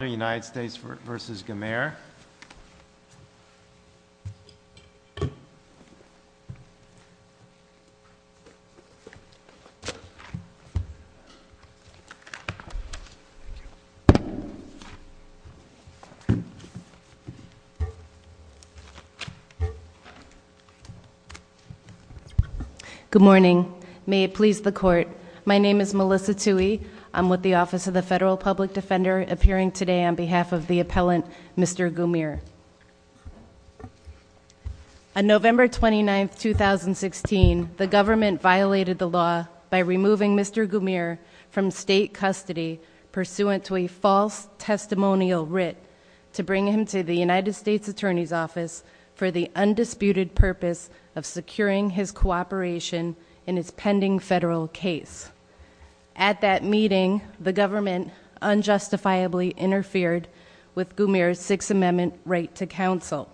Good morning. May it please the court. My name is Melissa Tuohy. I'm with the Office of the Federal Public Defender appearing today on behalf of the appellant Mr. Gumaer. On November 29, 2016, the government violated the law by removing Mr. Gumaer from state custody pursuant to a false testimonial writ to bring him to the United States Attorney's Office for the undisputed purpose of securing his cooperation in his pending federal case. At that meeting, the government unjustifiably interfered with Gumaer's Sixth Amendment right to counsel.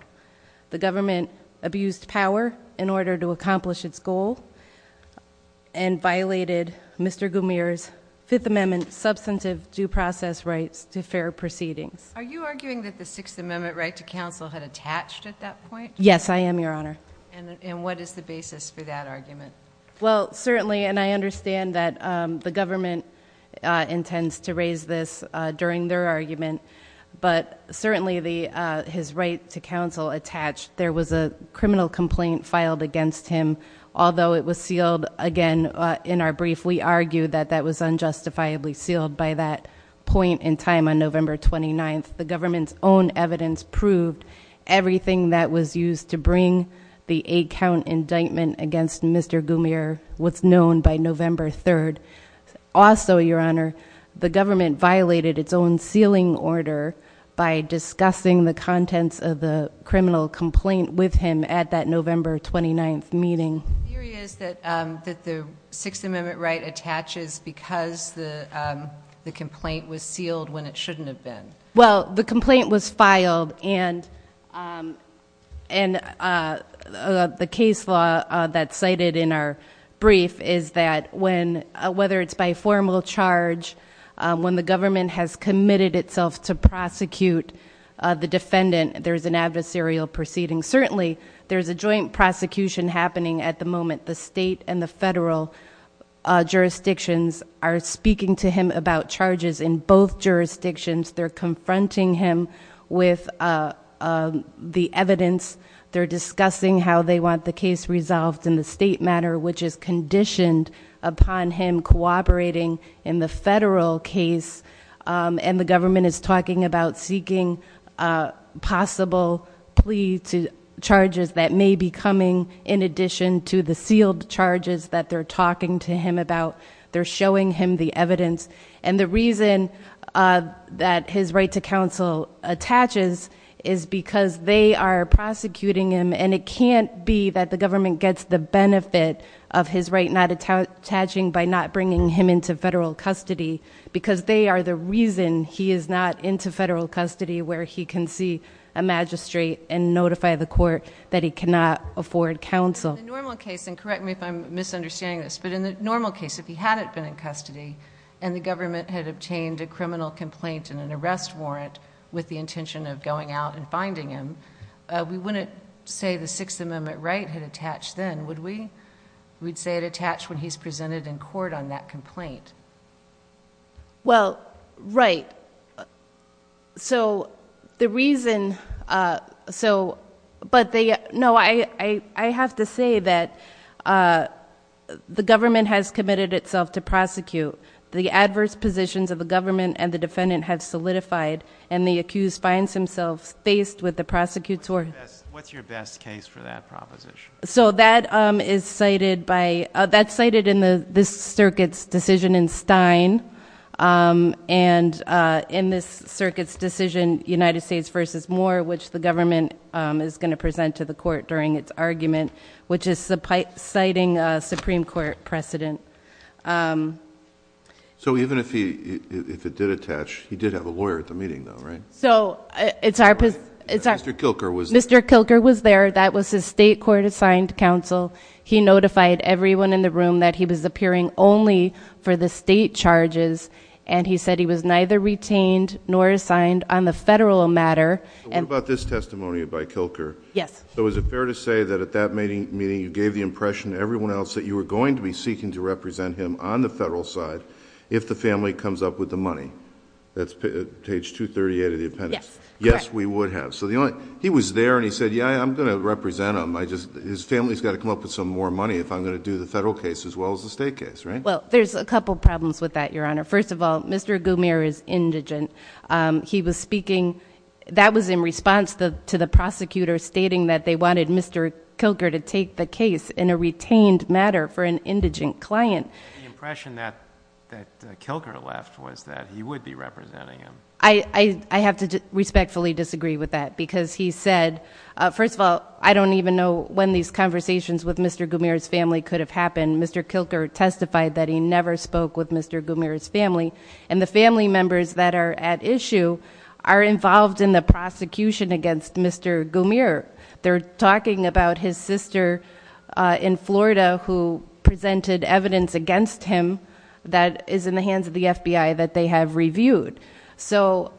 The government abused power in order to accomplish its goal and violated Mr. Gumaer's Fifth Amendment substantive due process rights to fair proceedings. Are you arguing that the Sixth Amendment right to counsel had attached at that point? Yes, I am, Your Honor. And what is the basis for that argument? Well, certainly, and I understand that the government intends to raise this during their argument, but certainly the his right to counsel attached, there was a criminal complaint filed against him. Although it was sealed again, in our brief, we argued that that was unjustifiably sealed by that point in time on November 29. The government's own evidence proved everything that was used to bring the eight-count indictment against Mr. Gumaer was known by November 3rd. Also, Your Honor, the government violated its own sealing order by discussing the contents of the criminal complaint with him at that November 29th meeting. The theory is that the Sixth Amendment right attaches because the complaint was sealed when it shouldn't have been. Well, the complaint was filed and the case law that's cited in our brief is that when, whether it's by formal charge, when the government has committed itself to prosecute the defendant, there's an adversarial proceeding. Certainly, there's a joint prosecution happening at the moment. The state and the federal government is confronting him with the evidence. They're discussing how they want the case resolved in the state matter, which is conditioned upon him cooperating in the federal case. And the government is talking about seeking possible plea to charges that may be coming in addition to the sealed charges that they're talking to him about. They're showing him the evidence. And the reason that his right to counsel attaches is because they are prosecuting him and it can't be that the government gets the benefit of his right not attaching by not bringing him into federal custody because they are the reason he is not into federal custody where he can see a magistrate and notify the court that he cannot afford counsel. In the normal case, and correct me if I'm misunderstanding this, but in the normal case, if he hadn't been in custody and the government had obtained a criminal complaint and an arrest warrant with the intention of going out and finding him, we wouldn't say the Sixth Amendment right had attached then, would we? We'd say it attached when he's presented in court on that complaint. Well, right. So the reason, so, but they, no, I have to say that the government has committed itself to prosecute. The adverse positions of the government and the defendant have solidified and the accused finds himself faced with the prosecutor. What's your best case for that proposition? So that is cited by, that's cited in the, this circuit's decision in Stein and in this circuit's decision, United States versus Moore, which the government is going to present to the court during its argument, which is citing a Supreme Court precedent. So even if he, if it did attach, he did have a lawyer at the meeting though, right? So it's our, it's our. Mr. Kilker was. Mr. Kilker was there. That was his state court assigned counsel. He notified everyone in the room that he was appearing only for the state charges. And he said he was neither retained nor assigned on the federal matter. So what about this testimony by Kilker? Yes. So is it fair to say that at that meeting you gave the impression to everyone else that you were going to be seeking to represent him on the federal side if the family comes up with the money? That's page 238 of the appendix. Yes. Yes, we would have. So the only, he was there and he said, yeah, I'm going to represent him. I just, his family's got to come up with some more money if I'm going to do the federal case as well as the state case. Right? Well, there's a couple of problems with that, your honor. First of all, Mr. Goomer is indigent. He was speaking, that was in response to the prosecutor stating that they wanted Mr. Kilker to take the case in a retained matter for an indigent client. The impression that Kilker left was that he would be representing him. I have to respectfully disagree with that because he said, first of all, I don't even know when these conversations with Mr. Goomer's family could have happened. Mr. Kilker testified that he never spoke with Mr. Goomer's family. And the family members that are at issue are involved in the prosecution against Mr. Goomer. They're talking about his sister in Florida who presented evidence against him that is in the hands of the FBI that they have reviewed. So,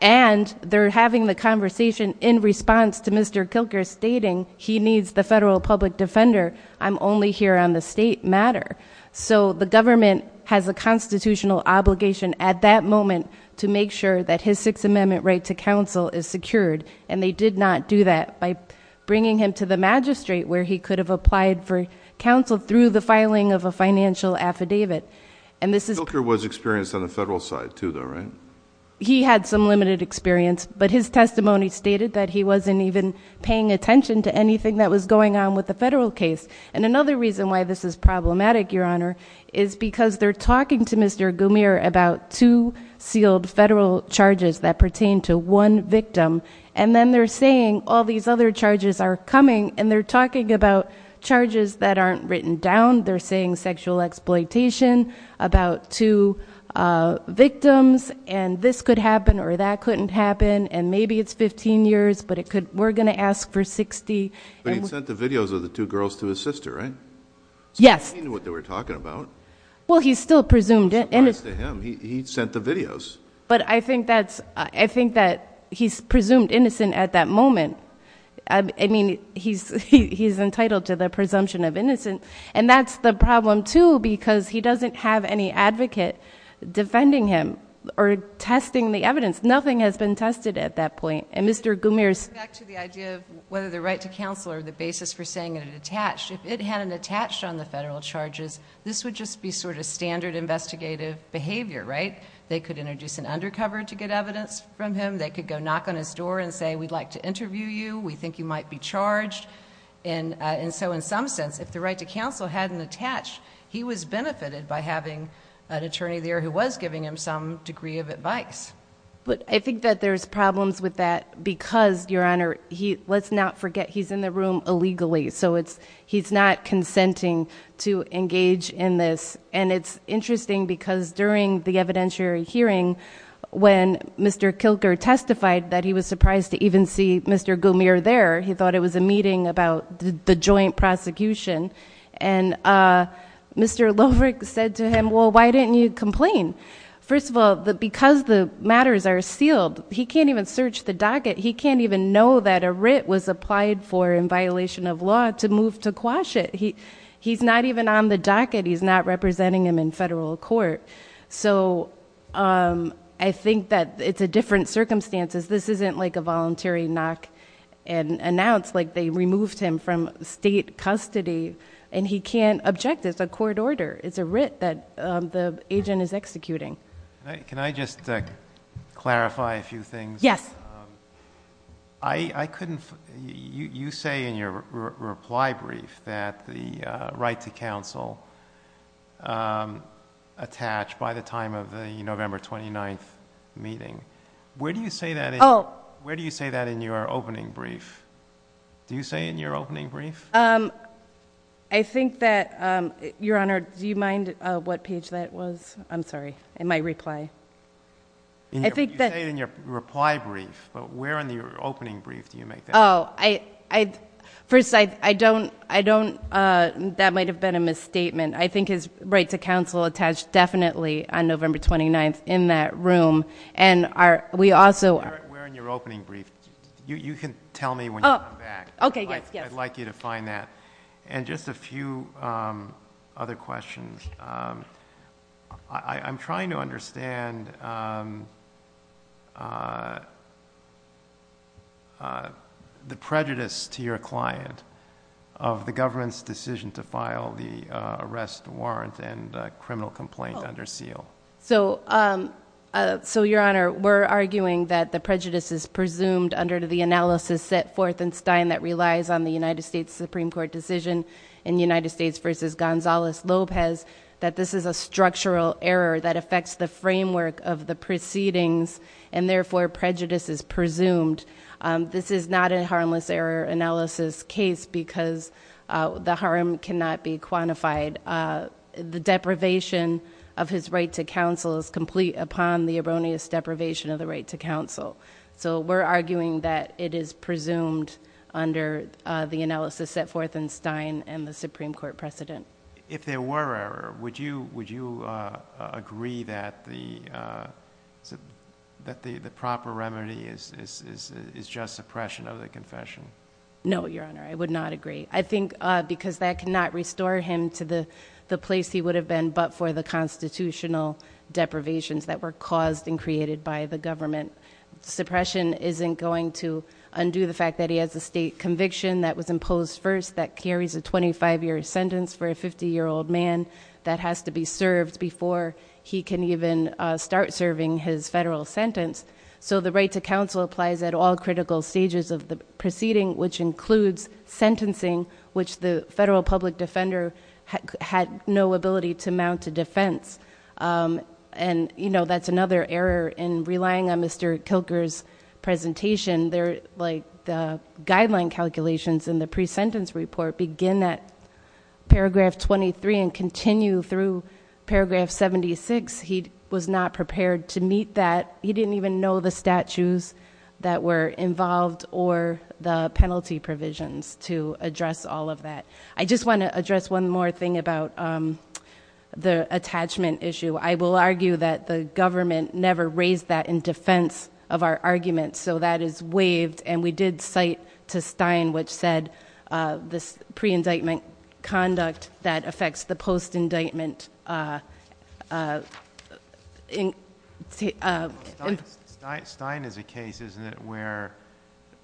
and they're having the conversation in response to Mr. Kilker stating he needs the federal public defender. I'm only here on the state matter. So, the government has a constitutional obligation at that moment to make sure that his Sixth Amendment right to counsel is secured. And they did not do that by bringing him to the magistrate where he could have applied for counsel through the filing of a financial affidavit. And this is- Kilker was experienced on the federal side, too, though, right? He had some limited experience. But his testimony stated that he wasn't even paying attention to anything that was going on with the federal case. And another reason why this is problematic, Your Honor, is because they're talking to Mr. And then they're saying all these other charges are coming and they're talking about charges that aren't written down. They're saying sexual exploitation about two victims and this could happen or that couldn't happen and maybe it's 15 years, but we're going to ask for 60. And- But he sent the videos of the two girls to his sister, right? Yes. So he knew what they were talking about. Well, he still presumed it. No surprise to him. He sent the videos. But I think that's, I think that he's presumed innocent at that moment. I mean, he's entitled to the presumption of innocence. And that's the problem, too, because he doesn't have any advocate defending him or testing the evidence. Nothing has been tested at that point. And Mr. Gumier's- Back to the idea of whether the right to counsel or the basis for saying it attached. If it hadn't attached on the federal charges, this would just be sort of standard investigative behavior, right? They could introduce an undercover to get evidence from him. They could go knock on his door and say, we'd like to interview you. We think you might be charged. And so in some sense, if the right to counsel hadn't attached, he was benefited by having an attorney there who was giving him some degree of advice. But I think that there's problems with that because, Your Honor, he, let's not forget, he's in the room illegally. So it's, he's not consenting to engage in this. And it's interesting because during the evidentiary hearing, when Mr. Kilker testified that he was surprised to even see Mr. Gumier there, he thought it was a meeting about the joint prosecution. And Mr. Lovric said to him, well, why didn't you complain? First of all, because the matters are sealed, he can't even search the docket. He can't even know that a writ was applied for in violation of law to move to quash it. He's not even on the docket. He's not representing him in federal court. So I think that it's a different circumstances. This isn't like a voluntary knock and announce, like they removed him from state custody. And he can't object. It's a court order. It's a writ that the agent is executing. Can I just clarify a few things? Yes. I couldn't, you say in your reply brief that the right to counsel attached by the time of the November 29th meeting. Where do you say that in your opening brief? Do you say in your opening brief? I think that, Your Honor, do you mind what page that was? I'm sorry, in my reply. You say it in your reply brief, but where in your opening brief do you make that? First, I don't, that might have been a misstatement. I think his right to counsel attached definitely on November 29th in that room. And we also, Where in your opening brief? You can tell me when you come back. Okay, yes, yes. I'd like you to find that. And just a few other questions. I'm trying to understand the prejudice to your client of the government's decision to file the arrest warrant and criminal complaint under seal. So, Your Honor, we're arguing that the prejudice is presumed under the analysis set forth in Stein that relies on the United States Supreme Court decision in the United States versus Gonzales-Lopez. That this is a structural error that affects the framework of the proceedings and therefore prejudice is presumed. This is not a harmless error analysis case because the harm cannot be quantified. The deprivation of his right to counsel is complete upon the erroneous deprivation of the right to counsel. So we're arguing that it is presumed under the analysis set forth in Stein and the Supreme Court precedent. If there were error, would you agree that the proper remedy is just suppression of the confession? No, Your Honor, I would not agree. I think because that cannot restore him to the place he would have been but for the constitutional deprivations that were caused and created by the government. Suppression isn't going to undo the fact that he has a state conviction that was imposed first that carries a 25 year sentence for a 50 year old man that has to be served before he can even start serving his federal sentence. So the right to counsel applies at all critical stages of the proceeding, which includes sentencing, which the federal public defender had no ability to mount a defense. And that's another error in relying on Mr. Kilker's presentation. The guideline calculations in the pre-sentence report begin at paragraph 23 and continue through paragraph 76, he was not prepared to meet that. He didn't even know the statutes that were involved or the penalty provisions to address all of that. I just want to address one more thing about the attachment issue. I will argue that the government never raised that in defense of our argument. So that is waived, and we did cite to Stein which said this pre-indictment conduct that affects the post-indictment. Stein is a case, isn't it, where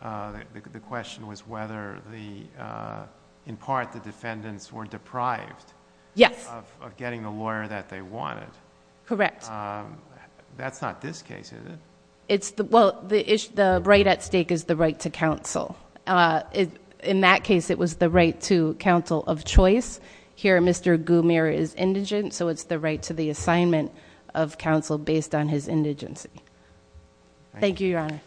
the question was whether in part the defendants were deprived of getting the lawyer that they wanted. Correct. That's not this case, is it? It's the, well, the right at stake is the right to counsel. In that case, it was the right to counsel of choice. Here, Mr. Goumier is indigent, so it's the right to the assignment of counsel based on his indigency. Thank you, Your Honor.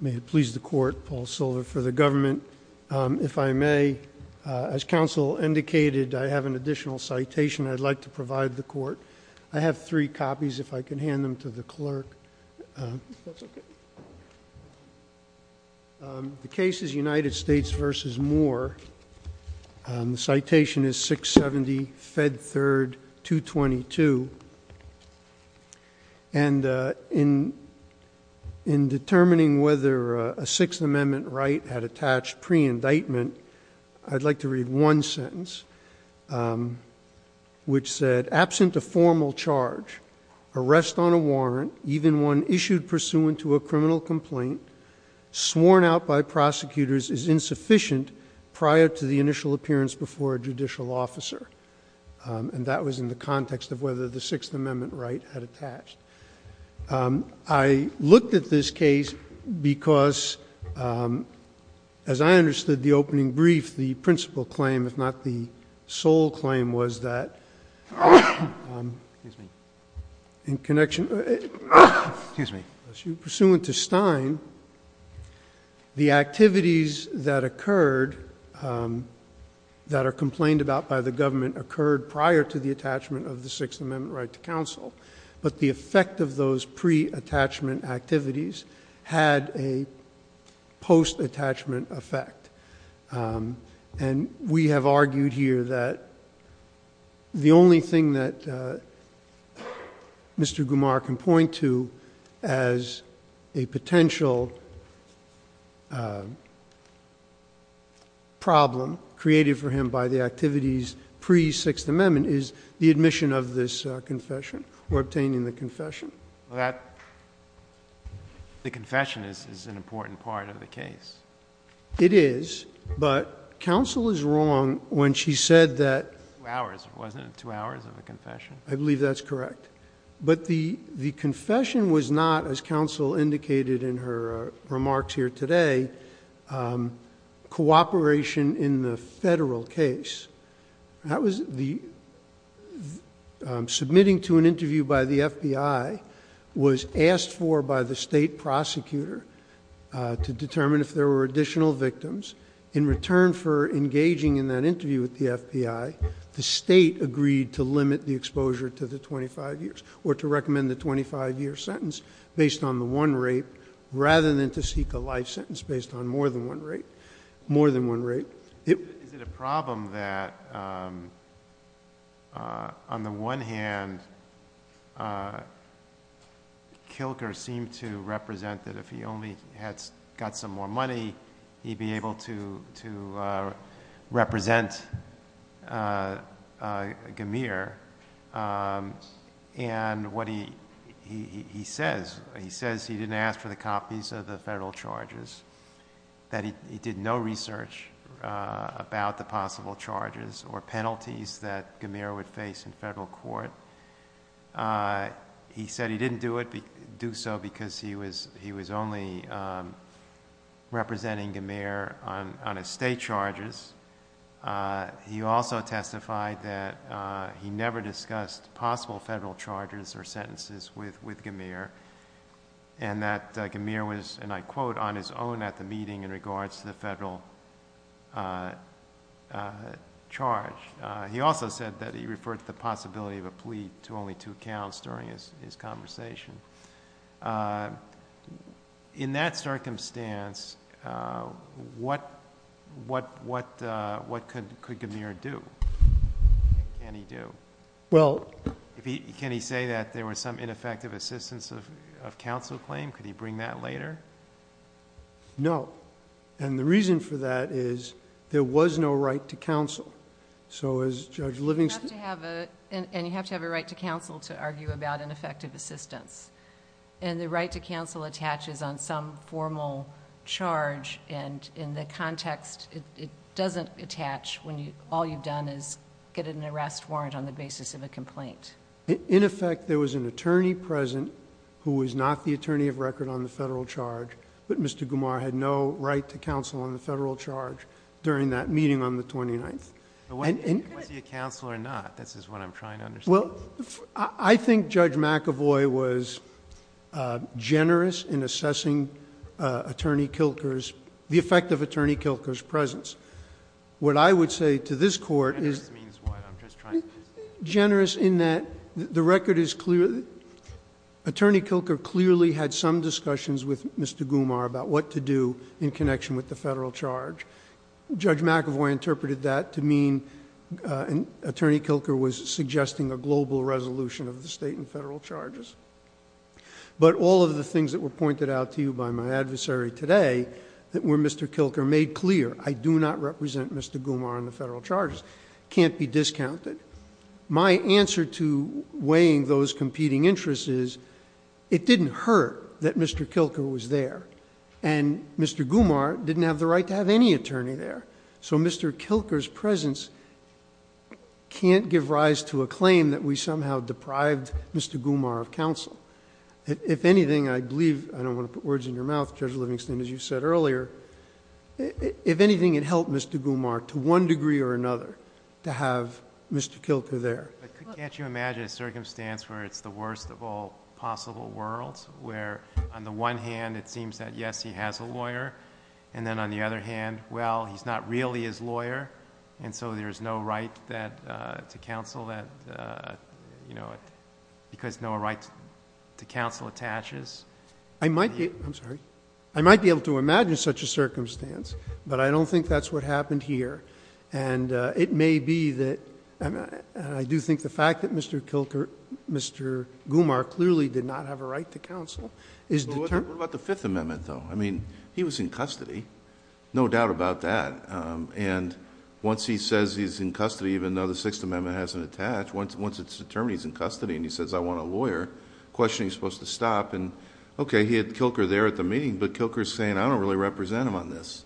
May it please the court, Paul Silver for the government. If I may, as counsel indicated, I have an additional citation I'd like to provide the court. I have three copies, if I can hand them to the clerk. The case is United States versus Moore. The citation is 670 Fed 3rd, 222. And in determining whether a Sixth Amendment right had attached pre-indictment, I'd like to read one sentence, which said, absent a formal charge, arrest on a warrant, even one issued pursuant to a criminal complaint, sworn out by prosecutors is insufficient prior to the initial appearance before a judicial officer. And that was in the context of whether the Sixth Amendment right had attached. I looked at this case because, as I understood the opening brief, the principal claim, if not the sole claim, was that. In connection, pursuant to Stein, the activities that occurred, that are complained about by the government, occurred prior to the attachment of the Sixth Amendment right to counsel. But the effect of those pre-attachment activities had a post-attachment effect. And we have argued here that the only thing that has a potential problem created for him by the activities pre-Sixth Amendment is the admission of this confession or obtaining the confession. The confession is an important part of the case. It is, but counsel is wrong when she said that. Two hours, wasn't it? Two hours of a confession. I believe that's correct. But the confession was not, as counsel indicated in her remarks here today, cooperation in the federal case. Submitting to an interview by the FBI was asked for by the state prosecutor to determine if there were additional victims. In return for engaging in that interview with the FBI, the state agreed to limit the exposure to the 25 years, or to recommend the 25 year sentence based on the one rate, rather than to seek a life sentence based on more than one rate. More than one rate. It- Is it a problem that, on the one hand, Kilker seemed to represent that if he only got some more money, he'd be able to represent Gamir. And what he says, he says he didn't ask for the copies of the federal charges, that he did no research about the possible charges or penalties that Gamir would face in federal court. He said he didn't do it, do so because he was, he was only representing Gamir on, on his state charges. He also testified that he never discussed possible federal charges or sentences with, with Gamir, and that Gamir was, and I quote, on his own at the meeting in regards to the federal charge. He also said that he referred to the possibility of a plea to only two counts during his, his conversation. In that circumstance what, what, what what could, could Gamir do? What can he do? Well. If he, can he say that there was some ineffective assistance of, of counsel claim? Could he bring that later? No. And the reason for that is, there was no right to counsel. So as Judge Livingston... You have to have a, and, and you have to have a right to counsel to argue about ineffective assistance, and the right to counsel attaches on some formal charge, and in the context it, it doesn't attach when you, all you've done is get an arrest warrant on the basis of a complaint. In effect, there was an attorney present who was not the attorney of record on the federal charge, but Mr. Gamir had no right to counsel on the federal charge during that meeting on the 29th. Was he a counsel or not? This is what I'm trying to understand. Well, I, I think Judge McAvoy was generous in assessing Attorney Kilker's, the effect of Attorney Kilker's presence. What I would say to this court is... Generous means what? I'm just trying to understand. Generous in that the record is clear, Attorney Kilker clearly had some discussions with Mr. Gumar about what to do in connection with the federal charge, Judge McAvoy interpreted that to mean Attorney Kilker was suggesting a global resolution of the state and federal charges, but all of the things that were pointed out to you by my adversary today that were Mr. Kilker made clear, I do not represent Mr. Gumar on the federal charges, can't be discounted. My answer to weighing those competing interests is it didn't hurt that Mr. Kilker was there and Mr. Gumar didn't have the right to have any attorney there, so Mr. Kilker's presence can't give rise to a claim that we somehow deprived Mr. Gumar of counsel. If anything, I believe, I don't want to put words in your mouth, Judge Livingston, as you said earlier, if anything, it helped Mr. Gumar to one degree or another to have Mr. Kilker there. Can't you imagine a circumstance where it's the worst of all possible worlds, where on the one hand, it seems that yes, he has a lawyer, and then on the other hand, well, he's not really his lawyer, and so there's no right that to counsel that, you know, because no right to counsel attaches? I'm sorry. I might be able to imagine such a circumstance, but I don't think that's what happened here, and it may be that, and I do think the fact that Mr. Gumar clearly did not have a right to counsel is determined. What about the Fifth Amendment, though? I mean, he was in custody, no doubt about that, and once he says he's in custody, even though the Sixth Amendment hasn't attached, once it's determined he's in custody and he says, I want a lawyer, questioning's supposed to stop, and okay, he had Kilker there at the meeting, but Kilker's saying, I don't really represent him on this.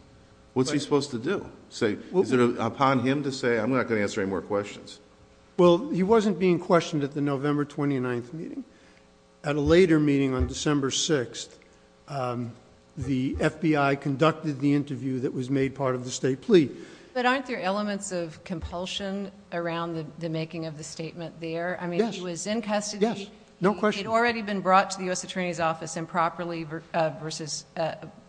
What's he supposed to do? Is it upon him to say, I'm not going to answer any more questions? Well, he wasn't being questioned at the November 29th meeting. At a later meeting on December 6th, the FBI conducted the interview that was made part of the state plea. But aren't there elements of compulsion around the making of the statement there? Yes. I mean, he was in custody. Yes. No question. He had already been brought to the U.S. Attorney's Office improperly versus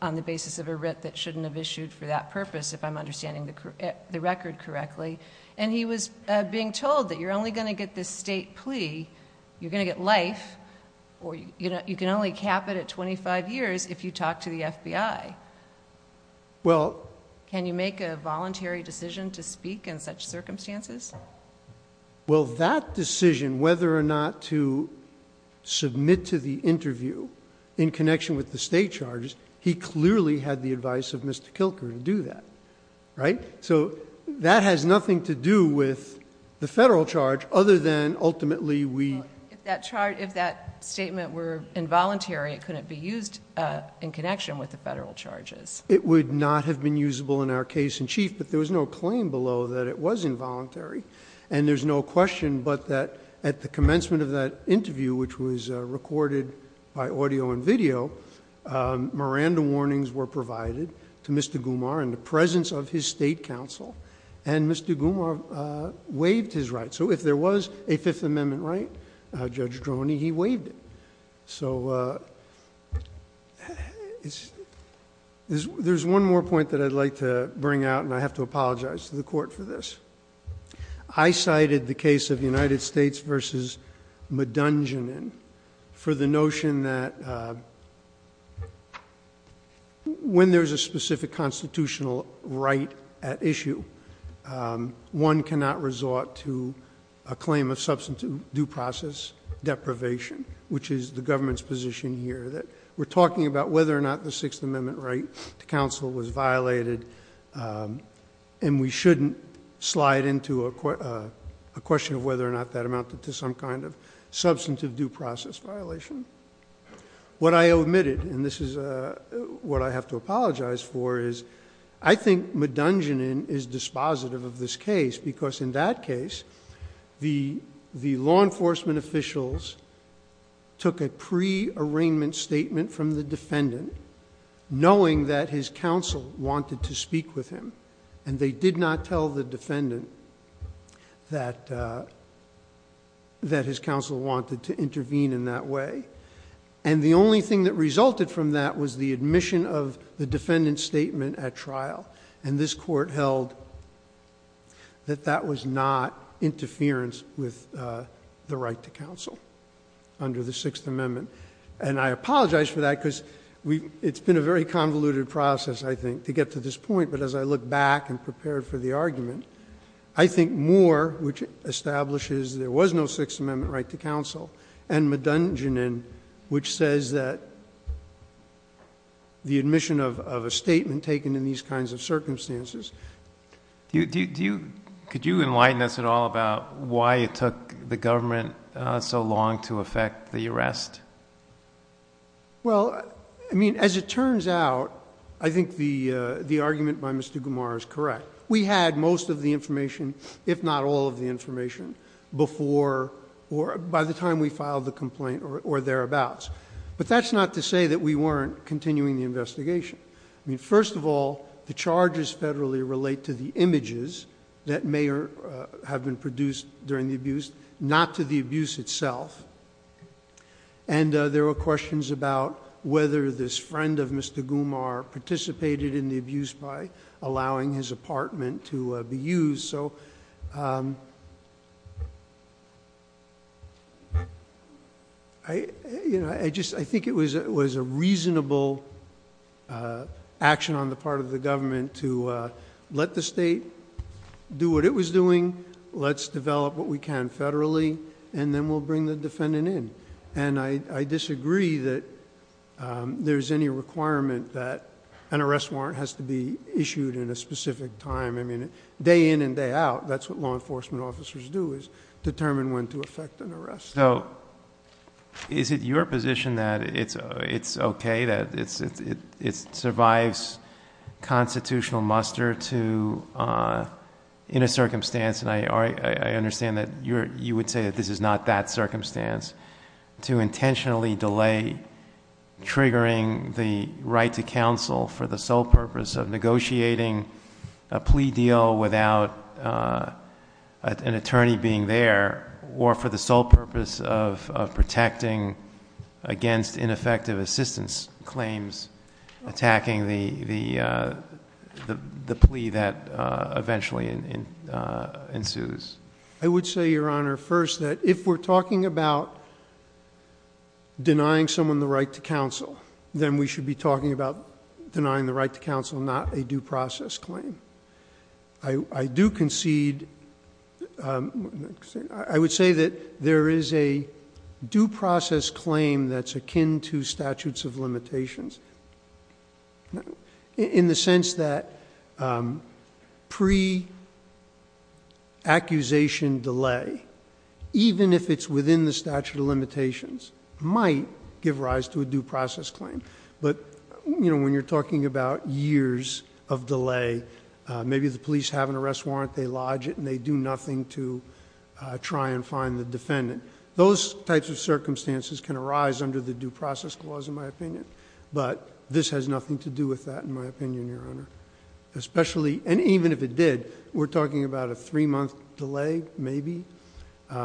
on the basis of a writ that shouldn't have issued for that purpose, if I'm understanding the record correctly, and he was being told that you're only going to get this state plea, you're going to get life, or you can only cap it at twenty-five years if you talk to the FBI. Can you make a voluntary decision to speak in such circumstances? Well, that decision, whether or not to submit to the interview in connection with the state charges, he clearly had the advice of Mr. Kilker to do that. That has nothing to do with the federal charge other than ultimately we... If that statement were involuntary, it couldn't be used in connection with the federal charges. It would not have been usable in our case in chief, but there was no claim below that it was involuntary. There's no question but that at the commencement of that interview, which was recorded by audio and video, Miranda warnings were provided to Mr. Goumar in the presence of his state counsel, and Mr. Goumar waived his right. So if there was a Fifth Amendment right, Judge Droney, he waived it. So there's one more point that I'd like to bring out, and I have to apologize to the Court for this. I cited the case of United States v. Madunjanin for the notion that when there's a specific constitutional right at issue, one cannot resort to a claim of substantive due process deprivation, which is the government's position here that we're talking about whether or not the Sixth Amendment right to counsel was violated, and we shouldn't slide into a question of whether or not that amounted to some kind of substantive due process violation. What I omitted, and this is what I have to apologize for, is I think Madunjanin is dispositive of this case because in that case, the law enforcement officials took a pre-arraignment statement from the defendant knowing that his counsel wanted to speak with him, and they did not tell the defendant that his counsel wanted to intervene in that way. The only thing that resulted from that was the admission of the defendant's statement at trial, and this Court held that that was not interference with the right to counsel under the Sixth Amendment. I apologize for that because it's been a very convoluted process, I think, to get to this point, but as I look back and prepare for the argument, I think Moore, which establishes there was no Sixth Amendment right to counsel, and Madunjanin, which says that the admission of a statement taken in these kinds of circumstances...... could you enlighten us at all about why it took the government so long to effect the arrest? Well, I mean, as it turns out, I think the argument by Mr. Gumar is correct. We had most of the information, if not all of the information, before or by the time we filed the complaint or thereabouts, but that's not to say that we weren't continuing the investigation. First of all, the charges federally relate to the images that may have been produced during the abuse, not to the abuse itself, and there were questions about whether this friend of Mr. Gumar participated in the abuse by allowing his apartment to be used. I think it was a reasonable action on the part of the government to let the state do what it was doing, let's develop what we can federally, and then we'll bring the defendant in. I disagree that there's any requirement that an arrest warrant has to be issued in a specific time. I mean, day in and day out, that's what law enforcement officers do, is determine when to effect an arrest. Is it your position that it's okay, that it survives constitutional muster to... in a circumstance, and I understand that you would say that this is not that circumstance, to intentionally delay triggering the right to counsel for the sole purpose of negotiating a plea deal without an attorney being there, or for the sole purpose of protecting against ineffective assistance claims attacking the plea that eventually ensues? I would say, Your Honor, first that if we're talking about denying someone the right to counsel, then we should be talking about denying the right to counsel, not a due process claim. I do concede... I would say that there is a due process claim that's akin to statutes of limitations, in the sense that pre-accusation delay, even if it's revised to a due process claim, but when you're talking about years of delay, maybe the police have an arrest warrant, they lodge it, and they do nothing to try and find the defendant. Those types of circumstances can arise under the due process clause, in my opinion, but this has nothing to do with that, in my opinion, Your Honor. Especially, and even if it did, we're talking about a three-month delay, maybe,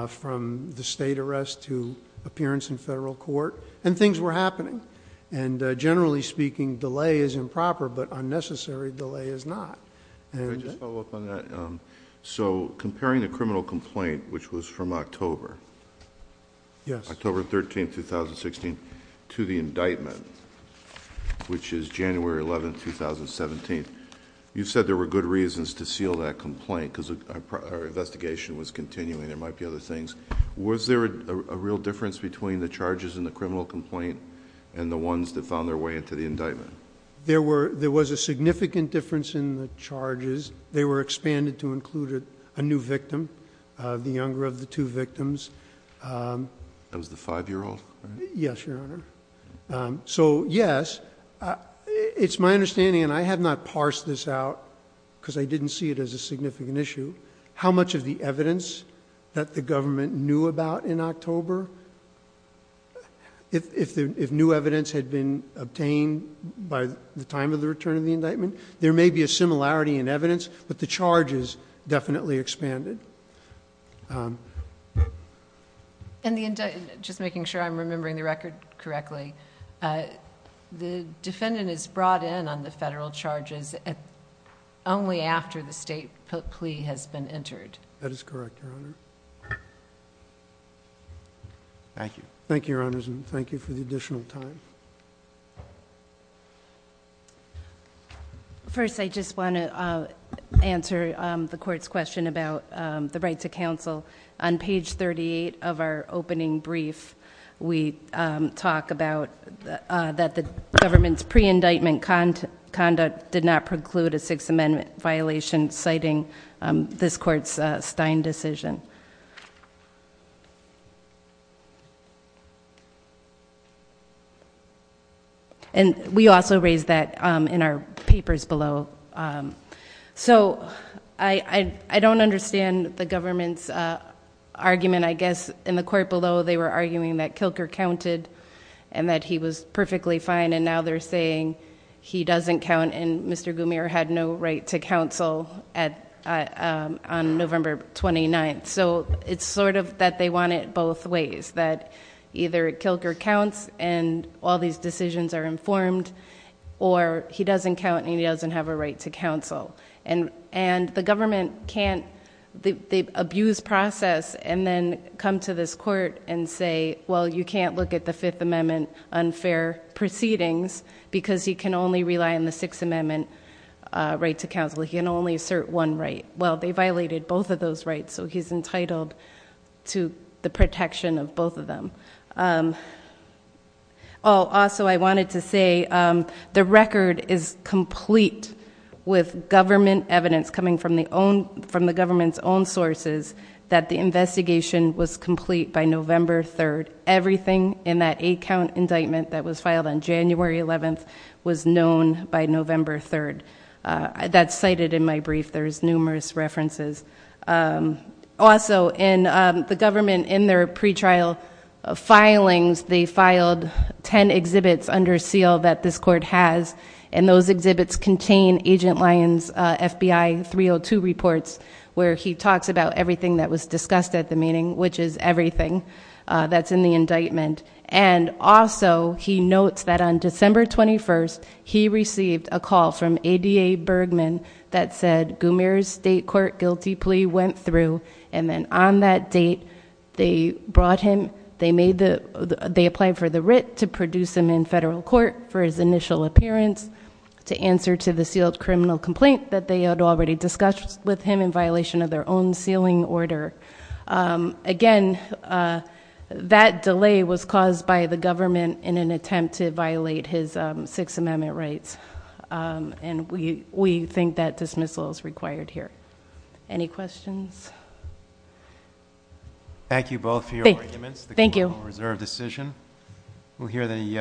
from the state arrest to appearance in federal court, and things were happening. Generally speaking, delay is improper, but unnecessary delay is not. Can I just follow up on that? Comparing the criminal complaint, which was from October... Yes. October 13, 2016, to the indictment, which is January 11, 2017, you said there were good reasons to seal that complaint, because our investigation was continuing. There might be other things. Was there a real difference between the charges in the criminal complaint and the ones that found their way into the indictment? There was a significant difference in the charges. They were expanded to include a new victim, the younger of the two victims. That was the five-year-old? Yes, Your Honor. Yes, it's my understanding, and I have not parsed this out, because I didn't see it as a significant issue, how much of the evidence that the government knew about in October... if new evidence had been obtained by the time of the return of the indictment, there may be a similarity in evidence, but the charges definitely expanded. Just making sure I'm remembering the record correctly, the defendant is brought in on the federal charges only after the state plea has been entered? That is correct, Your Honor. Thank you. Thank you, Your Honors, and thank you for the additional time. First, I just want to answer the court's question about the right to counsel. On page 38 of our opening brief, we talk about that the government's pre-indictment conduct did not preclude a Sixth Amendment violation, citing this court's Stein decision. We also raise that in our papers below. I don't understand the government's argument. I guess in the court below, they were arguing that Kilker counted and that he was perfectly fine, and now they're saying he doesn't count, and Mr. Goumier had no right to counsel on November 29th. It's sort of that they want it both ways, that either Kilker counts and all these decisions are informed, or he doesn't count and he doesn't have a right to counsel. The government can't... the abuse process, and then come to this court and say, well, you can't look at the Fifth Amendment unfair proceedings because you can only rely on the Sixth Amendment right to counsel. He can only assert one right. Well, they violated both of those rights, so he's entitled to the protection of both of them. Also, I wanted to say the record is complete with government evidence coming from the government's own sources that the investigation was complete by November 3rd. Everything in that eight-count indictment that was filed on January 11th was known by November 3rd. That's cited in my brief. There's numerous references. Also, the government, in their pretrial filings, they filed ten exhibits under seal that this court has, and those exhibits contain Agent Lyon's FBI 302 reports, where he talks about everything that was discussed at the meeting, which is everything that's in the indictment. And also, he notes that on December 21st, he received a call from ADA Bergman that said Gumer's state court guilty plea went through, and then on that date, they brought him... they applied for the writ to produce him in federal court for his initial appearance to answer to the sealed criminal complaint that they had already discussed with him in violation of their own sealing order. Again, that delay was caused by the government in an attempt to violate his Sixth Amendment rights, and we think that dismissal is required here. Any questions? Thank you both for your arguments. Thank you. The criminal reserve decision. We'll hear the...